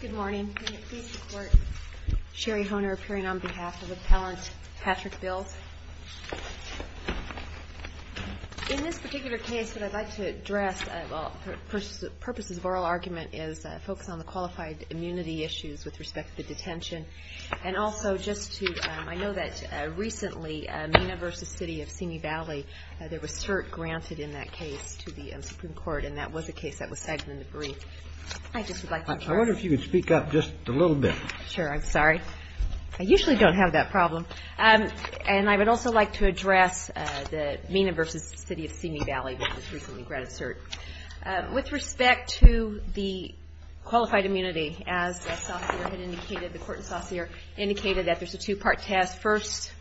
Good morning. Please report. Sherry Hohner appearing on behalf of Appellant Patrick Bills. In this particular case, what I'd like to address, for purposes of oral argument, is focus on the qualified immunity issues with respect to the detention. And also just to, I know that recently, Mina v. City of Simi Valley, there was cert granted in that case to the Supreme Court, and that was a case that was segmented in the brief. I just would like to address I wonder if you could speak up just a little bit. Sure, I'm sorry. I usually don't have that problem. And I would also like to address the Mina v. City of Simi Valley, which was recently granted cert. With respect to the qualified immunity, as the Court and Saucere had indicated that there's a two-part test. First,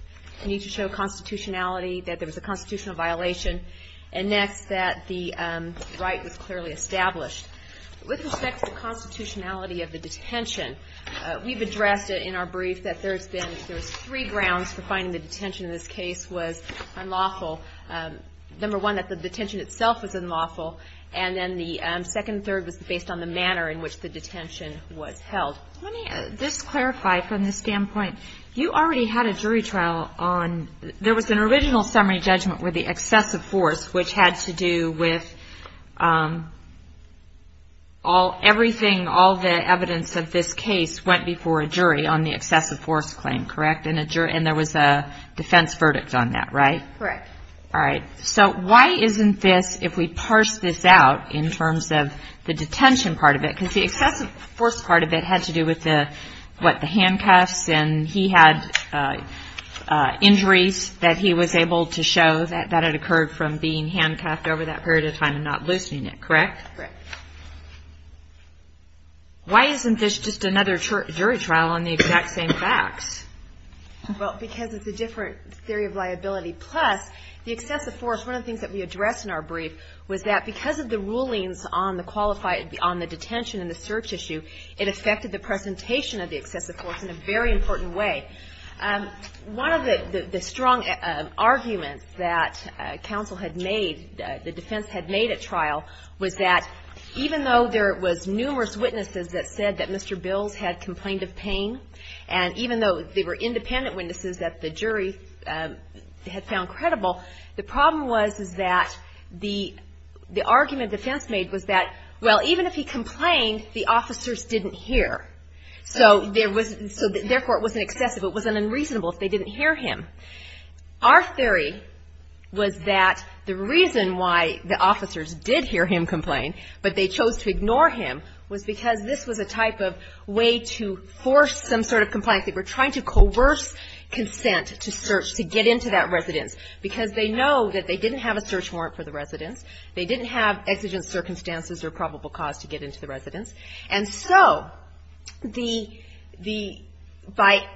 you need to show constitutionality, that there was a constitutional violation. And next, that the right was clearly established. With respect to the constitutionality of the detention, we've addressed it in our brief that there's been, there's three grounds for finding the detention in this case was unlawful. Number one, that the detention itself was unlawful. And then the second and third was based on the manner in which the detention was held. Let me just clarify from this standpoint. You already had a jury trial on, there was an original summary judgment with the excessive force, which had to do with everything, all the evidence of this case went before a jury on the excessive force claim, correct? And there was a defense verdict on that, right? Correct. All right, so why isn't this, if we parse this out in terms of the detention part of it, because the excessive force part of it had to do with the, what, the handcuffs? And he had injuries that he was able to show that had occurred from being handcuffed over that period of time and not loosening it, correct? Correct. Why isn't this just another jury trial on the exact same facts? Well, because it's a different theory of liability. Plus, the excessive force, one of the things that we addressed in our brief, was that because of the rulings on the detention and the search issue, it affected the presentation of the excessive force in a very important way. One of the strong arguments that counsel had made, the defense had made at trial, was that even though there was numerous witnesses that said that Mr. Bills had complained of pain, and even though they were independent witnesses that the jury had found credible, the problem was that the argument defense made was that, well, even if he complained, the officers didn't hear. So, therefore, it wasn't excessive, it was unreasonable if they didn't hear him. Our theory was that the reason why the officers did hear him complain, but they chose to ignore him, was because this was a type of way to force some sort of complaint. They were trying to coerce consent to search, to get into that residence, because they know that they didn't have a search warrant for the residence, they didn't have exigent circumstances or probable cause to get into the residence. And so, the — by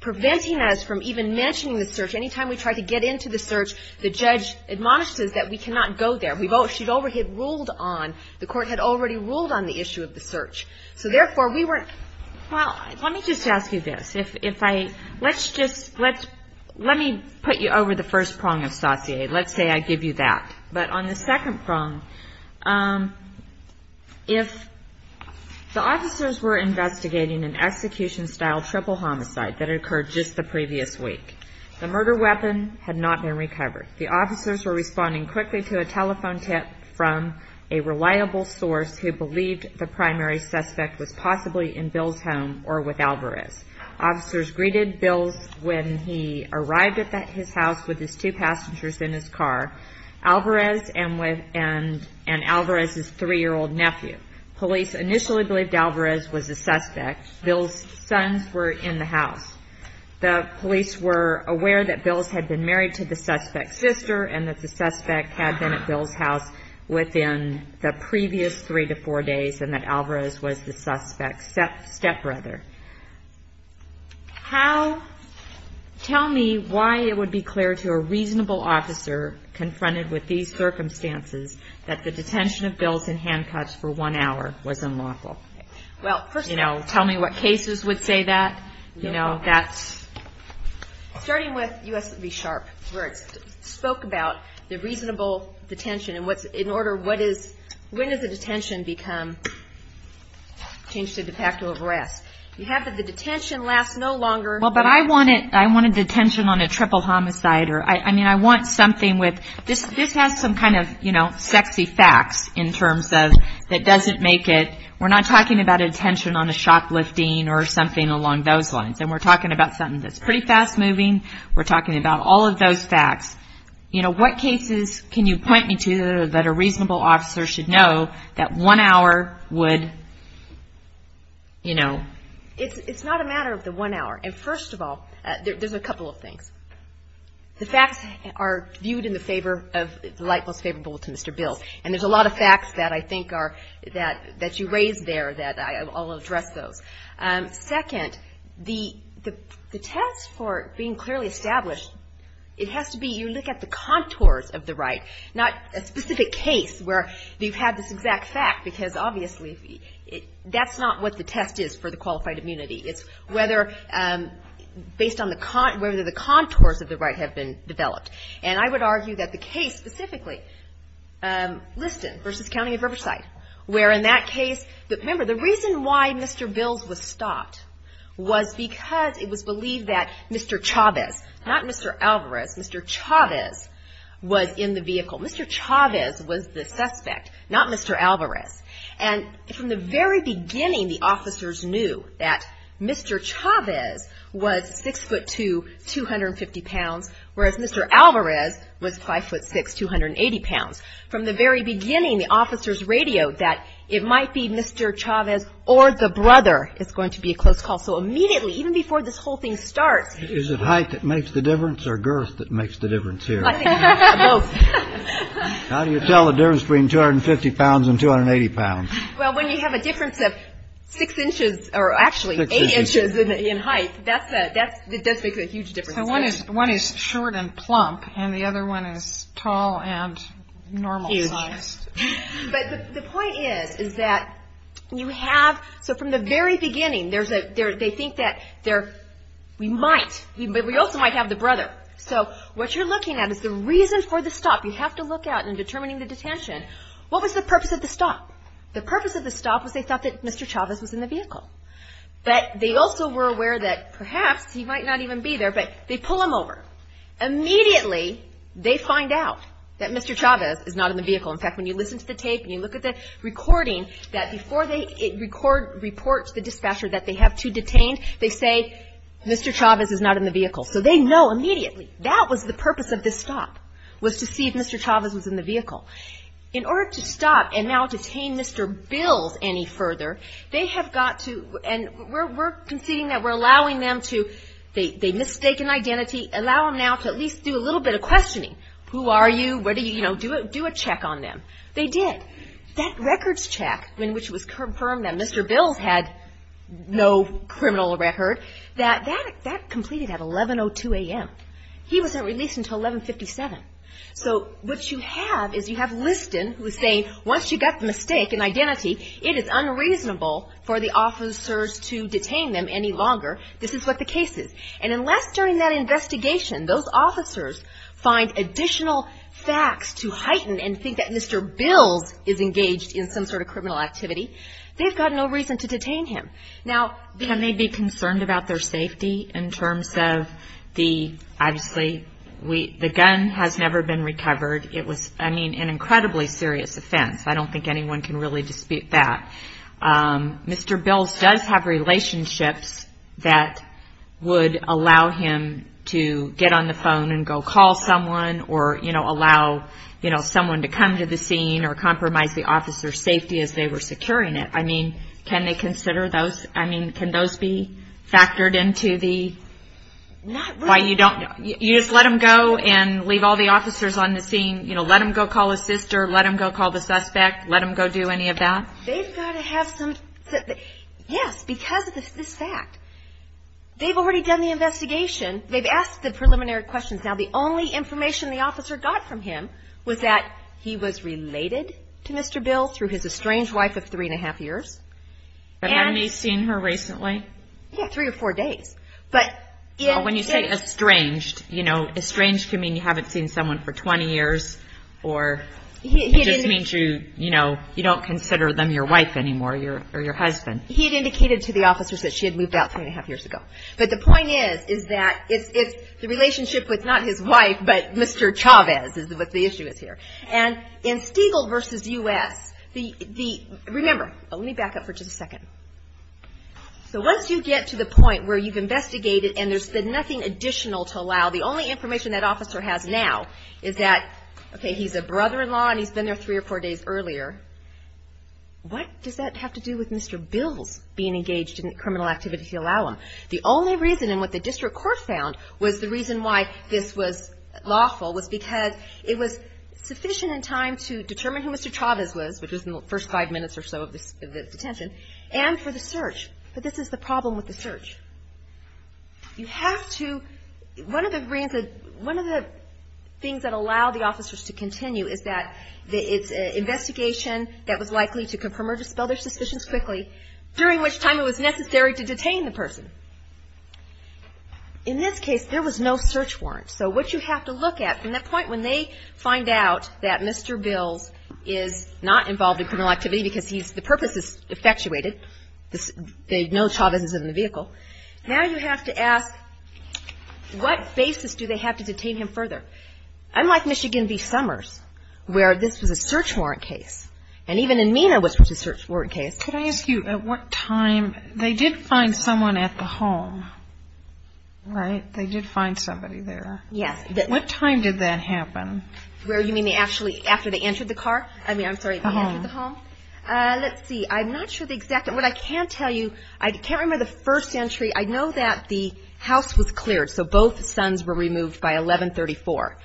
preventing us from even mentioning the search, any time we tried to get into the search, the judge admonishes that we cannot go there. We both — she'd already ruled on — the Court had already ruled on the issue of the search. So, therefore, we weren't — Kagan. Well, let me just ask you this. If I — let's just — let's — let me put you over the first prong of sauté. Let's say I give you that. But on the second prong, if the officers were investigating an execution-style triple homicide that occurred just the previous week, the murder weapon had not been recovered. The officers were responding quickly to a telephone tip from a reliable source who believed the primary suspect was possibly in Bill's home or with Alvarez. Officers greeted Bill when he arrived at his house with his two passengers in his car. Alvarez and Alvarez's three-year-old nephew. Police initially believed Alvarez was the suspect. Bill's sons were in the house. The police were aware that Bill had been married to the suspect's sister and that the suspect had been at Bill's house within the previous three to four days and that Alvarez was the suspect's stepbrother. How — tell me why it would be clear to a reasonable officer confronted with these circumstances that the detention of Bill's in handcuffs for one hour was unlawful. Well, first — You know, tell me what cases would say that. You know, that's — Starting with U.S. v. Sharp, where it spoke about the reasonable detention and what's — when does the detention become changed to de facto arrest? You have that the detention lasts no longer — Well, but I want it — I want a detention on a triple homicide or — I mean, I want something with — this has some kind of, you know, sexy facts in terms of that doesn't make it — we're not talking about a detention on a shoplifting or something along those lines. And we're talking about something that's pretty fast-moving. We're talking about all of those facts. You know, what cases can you point me to that a reasonable officer should know that one hour would, you know — It's not a matter of the one hour. And first of all, there's a couple of things. The facts are viewed in the favor of — the light most favorable to Mr. Bill. And there's a lot of facts that I think are — that you raised there that I'll address those. Second, the test for being clearly established, it has to be — you look at the contours of the right, not a specific case where you've had this exact fact, because obviously that's not what the test is for the qualified immunity. It's whether — based on the — whether the contours of the right have been developed. And I would argue that the case specifically, Liston v. County of Riverside, where in that case — remember, the reason why Mr. Bills was stopped was because it was believed that Mr. Chavez — not Mr. Alvarez, Mr. Chavez — was in the vehicle. Mr. Chavez was the suspect, not Mr. Alvarez. And from the very beginning, the officers knew that Mr. Chavez was 6'2", 250 pounds, whereas Mr. Alvarez was 5'6", 280 pounds. From the very beginning, the officers radioed that it might be Mr. Chavez or the brother is going to be a close call. So immediately, even before this whole thing starts — Is it height that makes the difference or girth that makes the difference here? I think both. How do you tell the difference between 250 pounds and 280 pounds? Well, when you have a difference of 6 inches, or actually 8 inches in height, that's a — that does make a huge difference. So one is short and plump, and the other one is tall and normal-sized. Huge. But the point is, is that you have — so from the very beginning, there's a — they think that there — we might — but we also might have the brother. So what you're looking at is the reason for the stop. You have to look out in determining the detention. What was the purpose of the stop? The purpose of the stop was they thought that Mr. Chavez was in the vehicle. But they also were aware that perhaps he might not even be there, but they pull him over. Immediately, they find out that Mr. Chavez is not in the vehicle. In fact, when you listen to the tape and you look at the recording, that before they record — report to the dispatcher that they have two detained, they say, Mr. Chavez is not in the vehicle. So they know immediately. That was the purpose of this stop, was to see if Mr. Chavez was in the vehicle. In order to stop and now detain Mr. Bills any further, they have got to — and we're conceding that we're allowing them to — they mistake an identity. Allow them now to at least do a little bit of questioning. Who are you? What do you — you know, do a check on them. They did. That records check in which it was confirmed that Mr. Bills had no criminal record, that completed at 11.02 a.m. He wasn't released until 11.57. So what you have is you have Liston, who is saying once you've got the mistake and identity, it is unreasonable for the officers to detain them any longer. This is what the case is. And unless during that investigation those officers find additional facts to heighten and think that Mr. Bills is engaged in some sort of criminal activity, they've got no reason to detain him. Now, can they be concerned about their safety in terms of the — obviously, the gun has never been recovered. It was, I mean, an incredibly serious offense. I don't think anyone can really dispute that. Mr. Bills does have relationships that would allow him to get on the phone and go call someone or, you know, allow, you know, someone to come to the scene or compromise the officer's safety as they were securing it. I mean, can they consider those — I mean, can those be factored into the — Not really. You just let them go and leave all the officers on the scene, you know, let them go call his sister, let them go call the suspect, let them go do any of that? They've got to have some — yes, because of this fact. They've already done the investigation. They've asked the preliminary questions. Now, the only information the officer got from him was that he was related to Mr. Bills through his estranged wife of three-and-a-half years. But hadn't he seen her recently? Yeah, three or four days. When you say estranged, you know, estranged can mean you haven't seen someone for 20 years or it just means you, you know, you don't consider them your wife anymore or your husband. He had indicated to the officers that she had moved out three-and-a-half years ago. But the point is, is that it's the relationship with not his wife, but Mr. Chavez is what the issue is here. And in Stiegel v. U.S., the — remember, let me back up for just a second. So once you get to the point where you've investigated and there's been nothing additional to allow, the only information that officer has now is that, okay, he's a brother-in-law and he's been there three or four days earlier, what does that have to do with Mr. Bills being engaged in criminal activity to allow him? The only reason and what the district court found was the reason why this was lawful was because it was sufficient in time to determine who Mr. Chavez was, which was in the first five minutes or so of detention, and for the search. But this is the problem with the search. You have to — one of the things that allow the officers to continue is that it's an investigation that was likely to confirm or dispel their suspicions quickly, during which time it was necessary to detain the person. In this case, there was no search warrant. So what you have to look at from that point when they find out that Mr. Bills is not involved in criminal activity because the purpose is effectuated, they know Chavez is in the vehicle, now you have to ask what basis do they have to detain him further? Unlike Michigan v. Summers, where this was a search warrant case, and even in MENA was a search warrant case. Can I ask you at what time they did find someone at the home, right? They did find somebody there. Yes. What time did that happen? You mean actually after they entered the car? I mean, I'm sorry. The home. The home. Let's see. I'm not sure the exact — what I can tell you, I can't remember the first entry. I know that the house was cleared, so both sons were removed by 1134.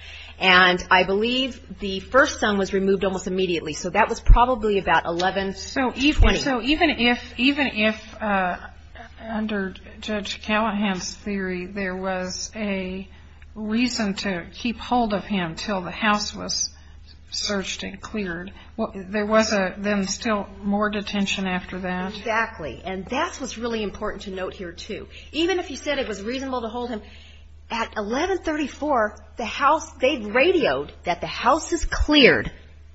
And I believe the first son was removed almost immediately, so that was probably about 1120. So even if, under Judge Callahan's theory, there was a reason to keep hold of him until the house was searched and cleared, there was then still more detention after that? Exactly. And that's what's really important to note here, too. Even if he said it was reasonable to hold him, at 1134, they radioed that the house is cleared,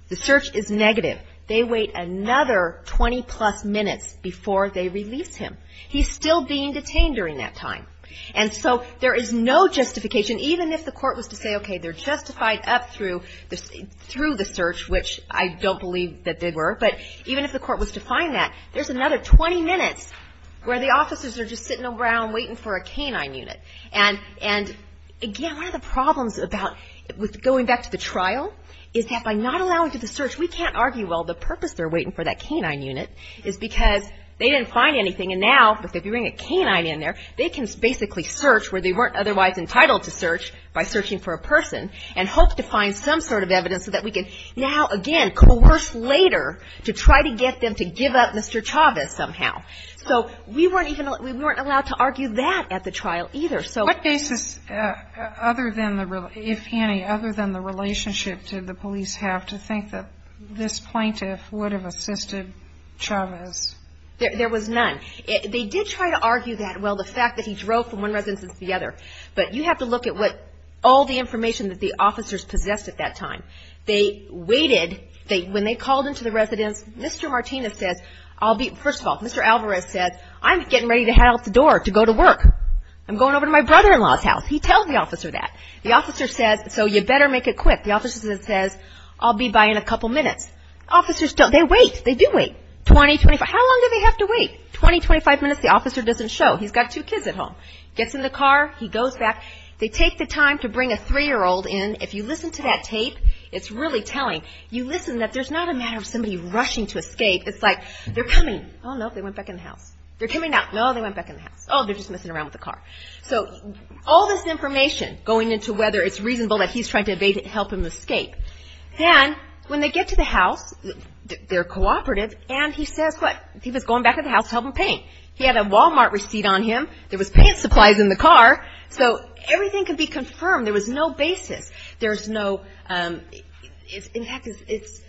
the search is negative. They wait another 20-plus minutes before they release him. He's still being detained during that time. And so there is no justification. Even if the court was to say, okay, they're justified up through the search, which I don't believe that they were, but even if the court was to find that, there's another 20 minutes where the officers are just sitting around waiting for a canine unit. And, again, one of the problems about going back to the trial is that by not allowing for the search, we can't argue, well, the purpose they're waiting for that canine unit is because they didn't find anything. And now, if they bring a canine in there, they can basically search where they weren't otherwise entitled to search by searching for a person and hope to find some sort of evidence so that we can now, again, coerce later to try to get them to give up Mr. Chavez somehow. So we weren't even allowed to argue that at the trial either. What basis, if any, other than the relationship did the police have to think that this plaintiff would have assisted Chavez? There was none. They did try to argue that, well, the fact that he drove from one residence to the other. But you have to look at what all the information that the officers possessed at that time. They waited. When they called into the residence, Mr. Martinez says, first of all, Mr. Alvarez says, I'm getting ready to head out the door to go to work. I'm going over to my brother-in-law's house. He tells the officer that. The officer says, so you better make it quick. The officer says, I'll be by in a couple minutes. Officers don't. They wait. They do wait. 20, 25. How long do they have to wait? 20, 25 minutes the officer doesn't show. He's got two kids at home. Gets in the car. He goes back. They take the time to bring a three-year-old in. If you listen to that tape, it's really telling. You listen that there's not a matter of somebody rushing to escape. It's like, they're coming. Oh, no, they went back in the house. They're coming out. No, they went back in the house. Oh, they're just messing around with the car. So all this information going into whether it's reasonable that he's trying to help him escape. And when they get to the house, they're cooperative, and he says what? He was going back to the house to help him paint. He had a Wal-Mart receipt on him. There was paint supplies in the car. So everything could be confirmed. There was no basis. There's no – in fact, it's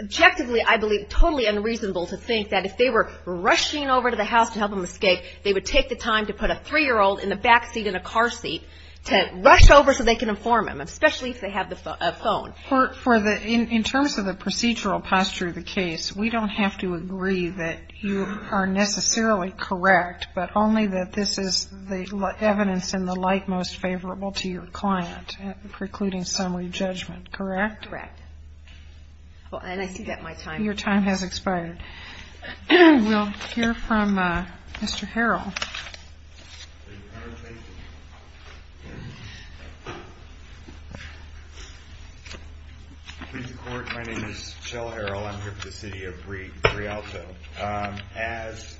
objectively, I believe, totally unreasonable to think that if they were rushing over to the house to help him escape, they would take the time to put a three-year-old in the backseat in a car seat to rush over so they can inform him, especially if they have a phone. For the – in terms of the procedural posture of the case, we don't have to agree that you are necessarily correct, but only that this is the evidence in the light most favorable to your client, precluding summary judgment, correct? Correct. And I see that my time – Your time has expired. We'll hear from Mr. Harrell. Please report. My name is Kjell Harrell. I'm here for the city of Rialto. As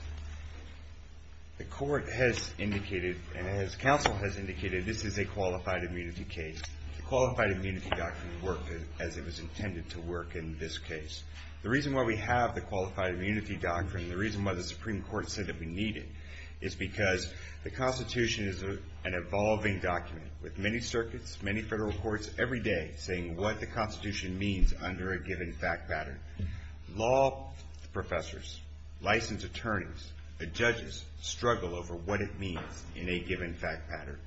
the court has indicated and as counsel has indicated, this is a qualified immunity case. The qualified immunity doctrine worked as it was intended to work in this case. The reason why we have the qualified immunity doctrine, the reason why the Supreme Court said that we need it, is because the Constitution is an evolving document with many circuits, many federal courts every day saying what the Constitution means under a given fact pattern. Law professors, licensed attorneys, the judges struggle over what it means in a given fact pattern.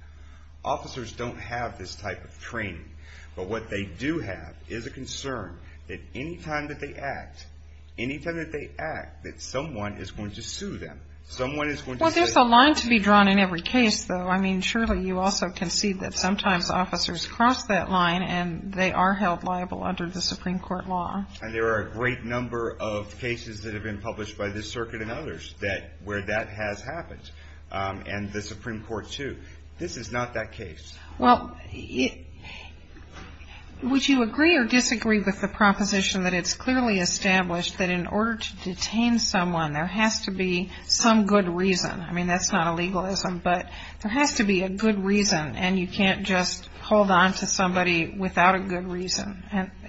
Officers don't have this type of training, but what they do have is a concern that any time that they act, any time that they act, that someone is going to sue them. Someone is going to say – Well, there's a line to be drawn in every case, though. I mean, surely you also can see that sometimes officers cross that line and they are held liable under the Supreme Court law. And there are a great number of cases that have been published by this circuit and others where that has happened, and the Supreme Court, too. This is not that case. Well, would you agree or disagree with the proposition that it's clearly established that in order to detain someone, there has to be some good reason? I mean, that's not a legalism, but there has to be a good reason, and you can't just hold on to somebody without a good reason.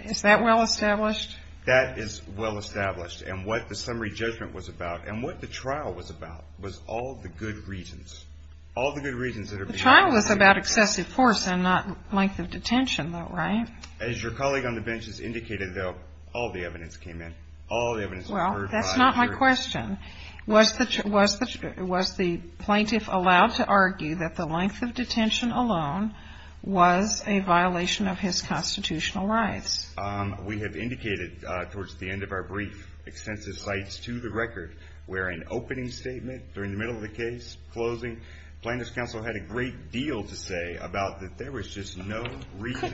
Is that well established? That is well established. And what the summary judgment was about, and what the trial was about, was all the good reasons. All the good reasons that are being used. The trial was about excessive force and not length of detention, though, right? As your colleague on the bench has indicated, though, all the evidence came in. All the evidence was heard by the jury. Well, that's not my question. Was the plaintiff allowed to argue that the length of detention alone was a violation of his constitutional rights? We have indicated towards the end of our brief extensive sites to the record where an opening statement during the middle of the case, closing, plaintiff's counsel had a great deal to say about that there was just no reason.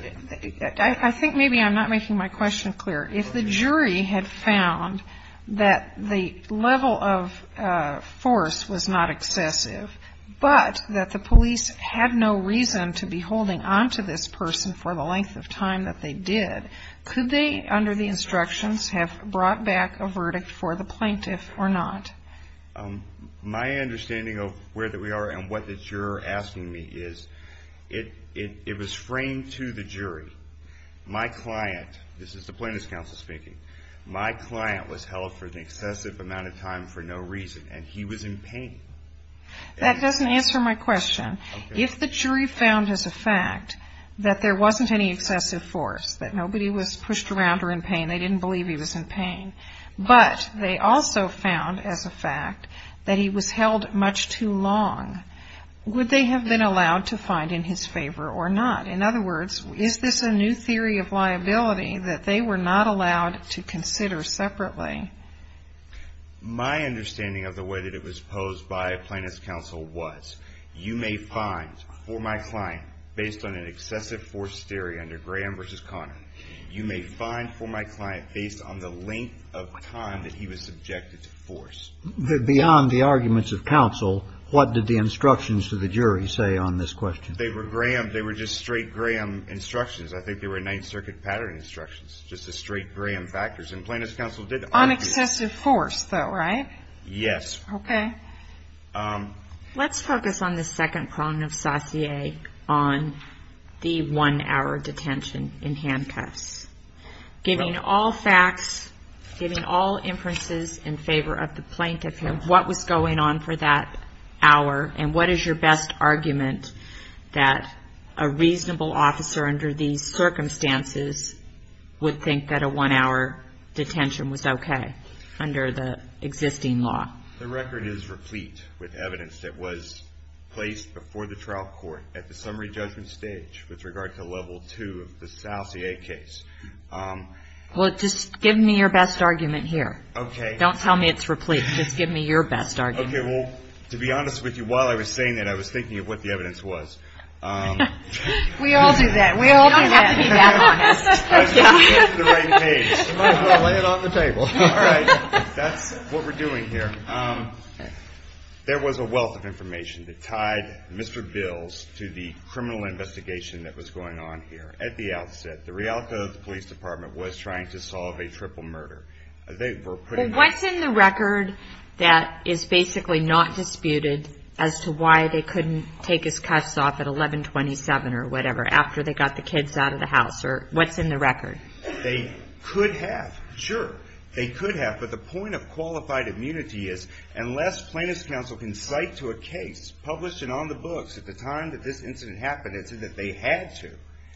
I think maybe I'm not making my question clear. If the jury had found that the level of force was not excessive, but that the police had no reason to be holding on to this person for the length of time that they did, could they, under the instructions, have brought back a verdict for the plaintiff or not? My understanding of where we are and what you're asking me is it was framed to the jury. My client, this is the plaintiff's counsel speaking, my client was held for an excessive amount of time for no reason, and he was in pain. That doesn't answer my question. If the jury found as a fact that there wasn't any excessive force, that nobody was pushed around or in pain, and they didn't believe he was in pain, but they also found as a fact that he was held much too long, would they have been allowed to find in his favor or not? In other words, is this a new theory of liability that they were not allowed to consider separately? My understanding of the way that it was posed by a plaintiff's counsel was you may find for my client, based on an excessive force theory under Graham v. Connor, you may find for my client based on the length of time that he was subjected to force. Beyond the arguments of counsel, what did the instructions to the jury say on this question? They were Graham, they were just straight Graham instructions. I think they were Ninth Circuit pattern instructions, just the straight Graham factors, and plaintiff's counsel did argue. On excessive force, though, right? Yes. Okay. Let's focus on the second problem of Saussure on the one-hour detention in handcuffs. Giving all facts, giving all inferences in favor of the plaintiff, what was going on for that hour, and what is your best argument that a reasonable officer under these circumstances would think that a one-hour detention was okay under the existing law? The record is replete with evidence that was placed before the trial court at the summary judgment stage with regard to level two of the Saussure case. Well, just give me your best argument here. Okay. Don't tell me it's replete. Just give me your best argument. Okay. Well, to be honest with you, while I was saying that, I was thinking of what the evidence was. We all do that. We all do that. You don't have to be that honest. I just picked the right page. I'm going to lay it on the table. All right. That's what we're doing here. There was a wealth of information that tied Mr. Bills to the criminal investigation that was going on here. At the outset, the Rialto Police Department was trying to solve a triple murder. What's in the record that is basically not disputed as to why they couldn't take his cuffs off at 1127 or whatever after they got the kids out of the house? What's in the record? They could have, sure. They could have, but the point of qualified immunity is unless plaintiff's counsel can cite to a case published and on the books at the time that this incident happened and said that they had to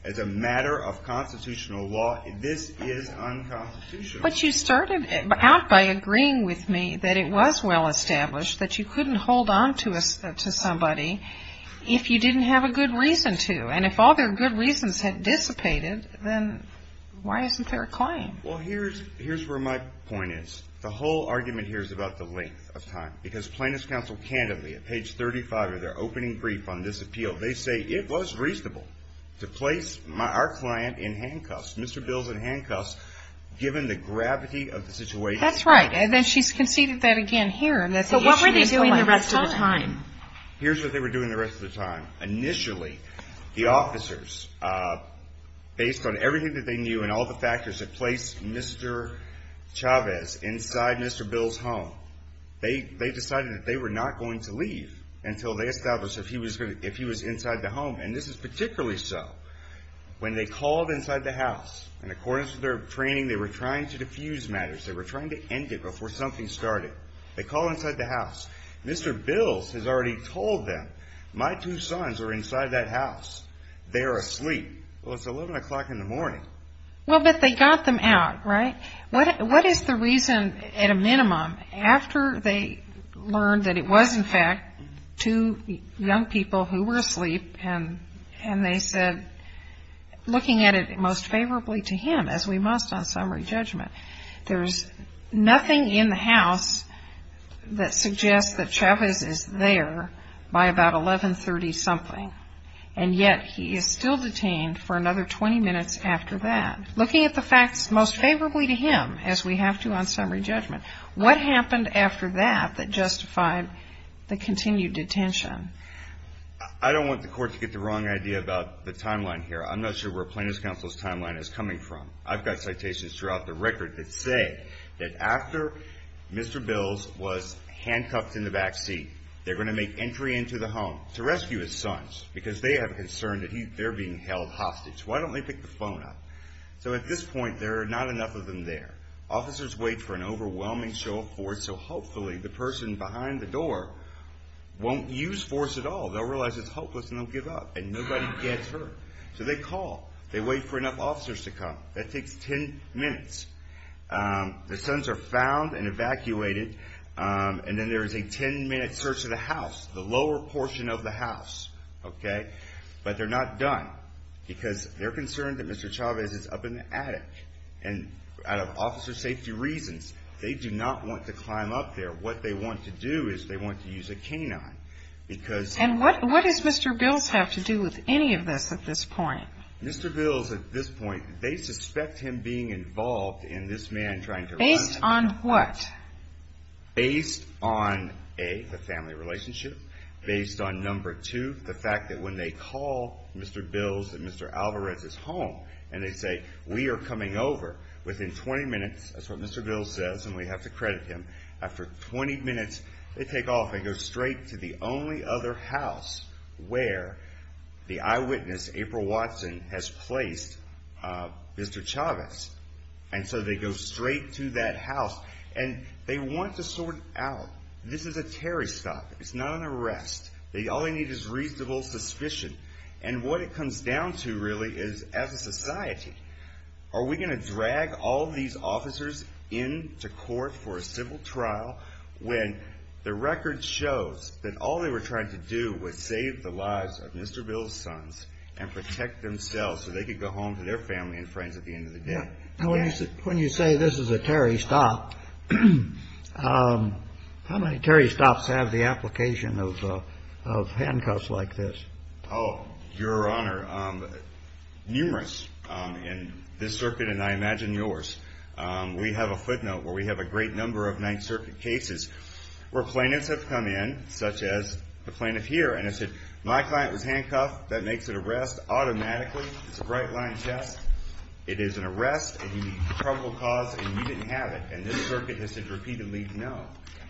as a matter of constitutional law, this is unconstitutional. But you started out by agreeing with me that it was well established that you couldn't hold on to somebody if you didn't have a good reason to. And if all their good reasons had dissipated, then why isn't there a claim? Well, here's where my point is. The whole argument here is about the length of time. Because plaintiff's counsel candidly, at page 35 of their opening brief on this appeal, they say it was reasonable to place our client in handcuffs, Mr. Bills in handcuffs, given the gravity of the situation. That's right. And then she's conceded that again here. So what were they doing the rest of the time? Here's what they were doing the rest of the time. Initially, the officers, based on everything that they knew and all the factors that placed Mr. Chavez inside Mr. Bills' home, they decided that they were not going to leave until they established if he was inside the home. And this is particularly so when they called inside the house. And according to their training, they were trying to diffuse matters. They were trying to end it before something started. They called inside the house. Mr. Bills has already told them, my two sons are inside that house. They are asleep. Well, it's 11 o'clock in the morning. Well, but they got them out, right? What is the reason, at a minimum, after they learned that it was in fact two young people who were asleep and they said, looking at it most favorably to him, as we must on summary judgment, there's nothing in the house that suggests that Chavez is there by about 1130-something, and yet he is still detained for another 20 minutes after that. Looking at the facts most favorably to him, as we have to on summary judgment, what happened after that that justified the continued detention? I don't want the court to get the wrong idea about the timeline here. I'm not sure where Plaintiff's Counsel's timeline is coming from. I've got citations throughout the record that say that after Mr. Bills was handcuffed in the backseat, they're going to make entry into the home to rescue his sons because they have a concern that they're being held hostage. Why don't they pick the phone up? So at this point, there are not enough of them there. Officers wait for an overwhelming show of force, so hopefully the person behind the door won't use force at all. They'll realize it's hopeless, and they'll give up, and nobody gets hurt. So they call. They wait for enough officers to come. That takes 10 minutes. The sons are found and evacuated, and then there is a 10-minute search of the house, the lower portion of the house, okay? But they're not done because they're concerned that Mr. Chavez is up in the attic, and out of officer safety reasons, they do not want to climb up there. What they want to do is they want to use a canine because— And what does Mr. Bills have to do with any of this at this point? Mr. Bills, at this point, they suspect him being involved in this man trying to— Based on what? Based on, A, the family relationship. Based on, number two, the fact that when they call Mr. Bills that Mr. Alvarez is home, and they say, We are coming over within 20 minutes, that's what Mr. Bills says, and we have to credit him. After 20 minutes, they take off. They go straight to the only other house where the eyewitness, April Watson, has placed Mr. Chavez. And so they go straight to that house, and they want to sort it out. This is a Terry stop. It's not an arrest. All they need is reasonable suspicion. Are we going to drag all these officers into court for a civil trial when the record shows that all they were trying to do was save the lives of Mr. Bills' sons and protect themselves so they could go home to their family and friends at the end of the day? When you say this is a Terry stop, how many Terry stops have the application of handcuffs like this? Oh, Your Honor, numerous in this circuit, and I imagine yours. We have a footnote where we have a great number of Ninth Circuit cases where plaintiffs have come in, such as the plaintiff here, and have said, My client was handcuffed. That makes it arrest automatically. It's a bright-line test. It is an arrest, and you need probable cause, and you didn't have it. And this circuit has said repeatedly, No.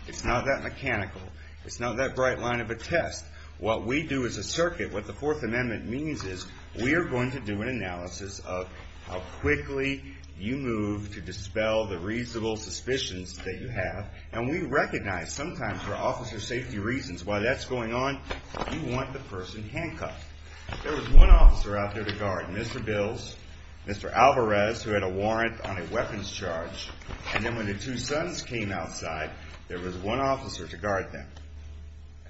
It's not that mechanical. It's not that bright line of a test. What we do as a circuit, what the Fourth Amendment means is we are going to do an analysis of how quickly you move to dispel the reasonable suspicions that you have, and we recognize sometimes for officer safety reasons why that's going on, you want the person handcuffed. If there was one officer out there to guard Mr. Bills, Mr. Alvarez, who had a warrant on a weapons charge, and then when the two sons came outside, there was one officer to guard them,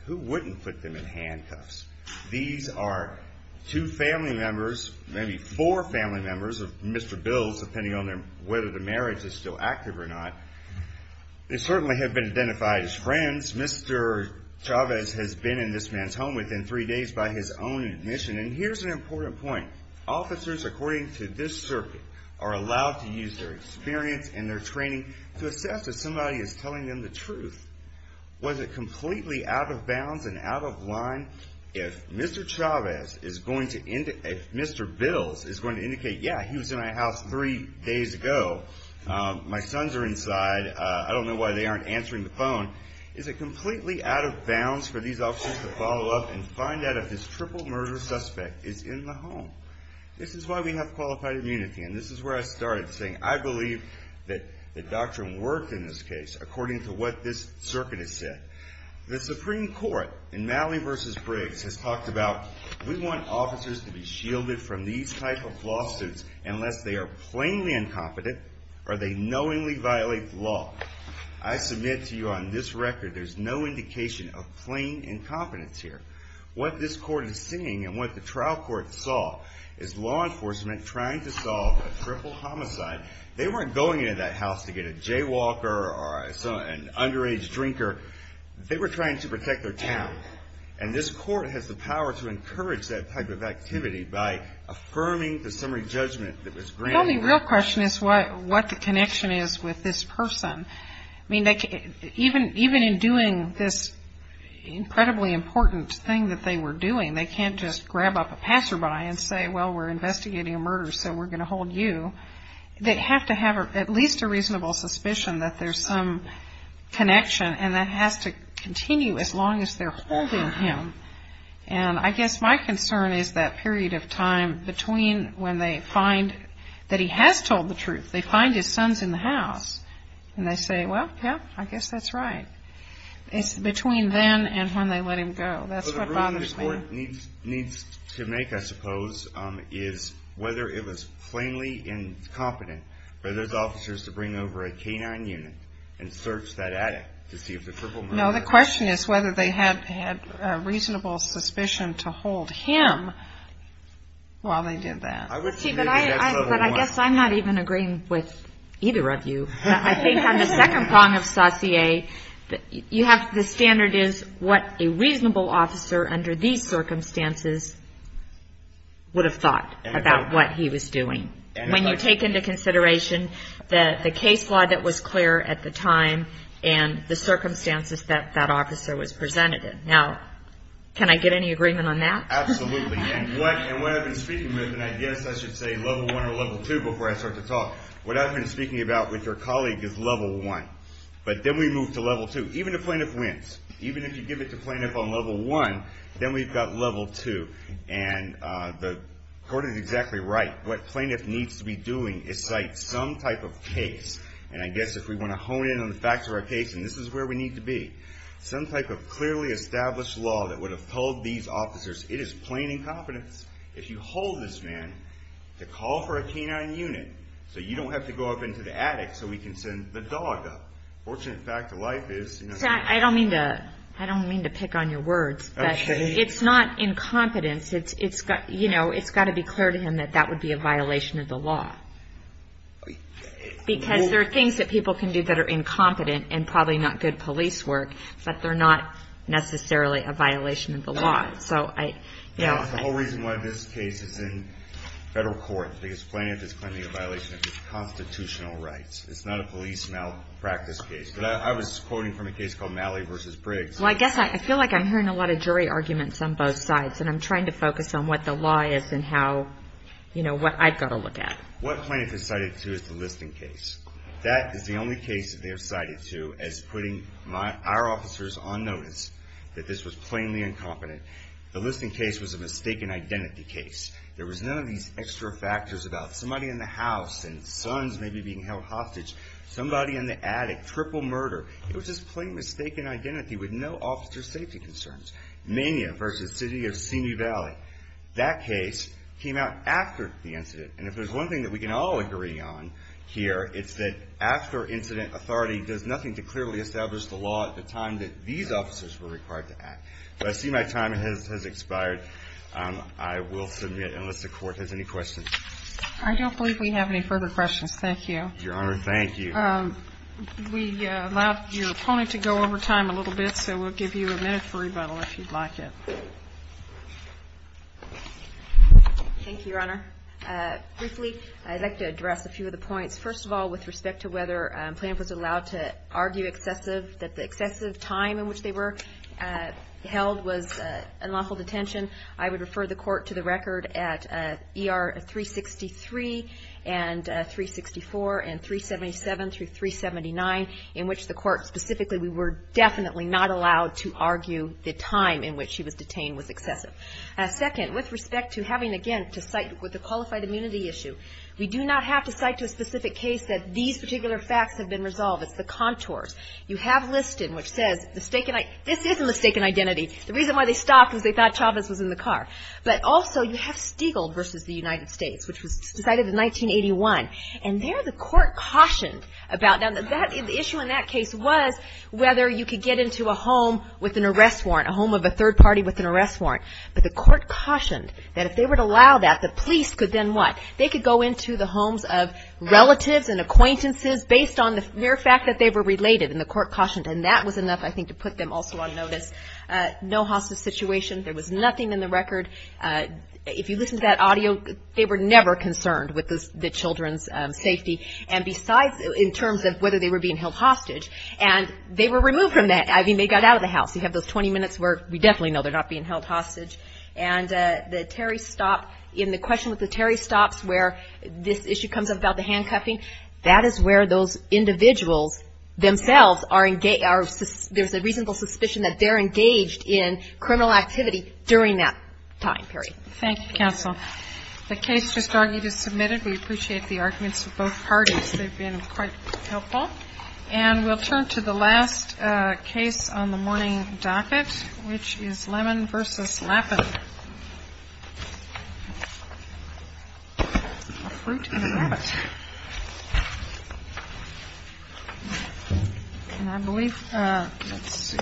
who wouldn't put them in handcuffs? These are two family members, maybe four family members of Mr. Bills, depending on whether the marriage is still active or not. They certainly have been identified as friends. Mr. Chavez has been in this man's home within three days by his own admission. And here's an important point. Officers, according to this circuit, are allowed to use their experience and their training to assess if somebody is telling them the truth. Was it completely out of bounds and out of line if Mr. Chavez is going to indicate, if Mr. Bills is going to indicate, yeah, he was in my house three days ago, my sons are inside, I don't know why they aren't answering the phone. Is it completely out of bounds for these officers to follow up and find out if this triple murder suspect is in the home? This is why we have qualified immunity, and this is where I started saying I believe that the doctrine worked in this case, according to what this circuit has said. The Supreme Court in Malley v. Briggs has talked about we want officers to be shielded from these type of lawsuits unless they are plainly incompetent or they knowingly violate the law. I submit to you on this record, there's no indication of plain incompetence here. What this court is seeing and what the trial court saw is law enforcement trying to solve a triple homicide. They weren't going into that house to get a jaywalker or an underage drinker. They were trying to protect their town, and this court has the power to encourage that type of activity by affirming the summary judgment that was granted. The only real question is what the connection is with this person. I mean, even in doing this incredibly important thing that they were doing, they can't just grab up a passerby and say, well, we're investigating a murder, so we're going to hold you. They have to have at least a reasonable suspicion that there's some connection, and that has to continue as long as they're holding him. And I guess my concern is that period of time between when they find that he has told the truth, they find his son's in the house, and they say, well, yeah, I guess that's right. It's between then and when they let him go. So the ruling this court needs to make, I suppose, is whether it was plainly incompetent for those officers to bring over a canine unit and search that attic to see if the triple homicide. No, the question is whether they had a reasonable suspicion to hold him while they did that. But I guess I'm not even agreeing with either of you. I think on the second prong of saucier, the standard is what a reasonable officer under these circumstances would have thought about what he was doing. When you take into consideration the case law that was clear at the time and the circumstances that that officer was presented in. Now, can I get any agreement on that? Absolutely. And what I've been speaking with, and I guess I should say level one or level two before I start to talk, what I've been speaking about with your colleague is level one. But then we move to level two. Even if a plaintiff wins, even if you give it to a plaintiff on level one, then we've got level two. And the court is exactly right. What a plaintiff needs to be doing is cite some type of case. And I guess if we want to hone in on the facts of our case, and this is where we need to be, some type of clearly established law that would have told these officers it is plain incompetence if you hold this man to call for a canine unit so you don't have to go up into the attic so we can send the dog up. A fortunate fact of life is... I don't mean to pick on your words, but it's not incompetence. It's got to be clear to him that that would be a violation of the law. Because there are things that people can do that are incompetent and probably not good police work, but they're not necessarily a violation of the law. The whole reason why this case is in federal court is because the plaintiff is claiming a violation of his constitutional rights. It's not a police malpractice case. I was quoting from a case called Malley v. Briggs. I feel like I'm hearing a lot of jury arguments on both sides, and I'm trying to focus on what the law is and what I've got to look at. What plaintiffs have cited to is the listing case. That is the only case that they have cited to as putting our officers on notice that this was plainly incompetent. The listing case was a mistaken identity case. There was none of these extra factors about somebody in the house and sons maybe being held hostage, somebody in the attic, triple murder. It was just plain mistaken identity with no officer safety concerns. Mania v. City of Simi Valley. That case came out after the incident. And if there's one thing that we can all agree on here, it's that after-incident authority does nothing to clearly establish the law at the time that these officers were required to act. I see my time has expired. I will submit unless the Court has any questions. I don't believe we have any further questions. Thank you. Your Honor, thank you. We allowed your opponent to go over time a little bit, so we'll give you a minute for rebuttal if you'd like it. Thank you, Your Honor. Briefly, I'd like to address a few of the points. First of all, with respect to whether a plaintiff was allowed to argue excessive, that the excessive time in which they were held was unlawful detention, I would refer the Court to the record at ER 363 and 364 and 377 through 379, in which the Court specifically, we were definitely not allowed to argue the time in which she was detained was excessive. Second, with respect to having, again, to cite with the qualified immunity issue, we do not have to cite to a specific case that these particular facts have been resolved. It's the contours. You have Liston, which says this is a mistaken identity. The reason why they stopped was they thought Chavez was in the car. But also, you have Stigl versus the United States, which was decided in 1981, and there the Court cautioned about that. The issue in that case was whether you could get into a home with an arrest warrant, a home of a third party with an arrest warrant. But the Court cautioned that if they were to allow that, the police could then what? They could go into the homes of relatives and acquaintances based on the mere fact that they were related. And the Court cautioned. And that was enough, I think, to put them also on notice. No hostage situation. There was nothing in the record. If you listen to that audio, they were never concerned with the children's safety. And besides, in terms of whether they were being held hostage, and they were removed from that. I mean, they got out of the house. You have those 20 minutes where we definitely know they're not being held hostage. And the Terry stop, in the question with the Terry stops where this issue comes up about the handcuffing, that is where those individuals themselves are engaged. There's a reasonable suspicion that they're engaged in criminal activity during that time period. Thank you, counsel. The case just argued is submitted. We appreciate the arguments of both parties. They've been quite helpful. And we'll turn to the last case on the morning docket, which is Lemon v. Lappin. A fruit and a rat. Can I believe? Let's see.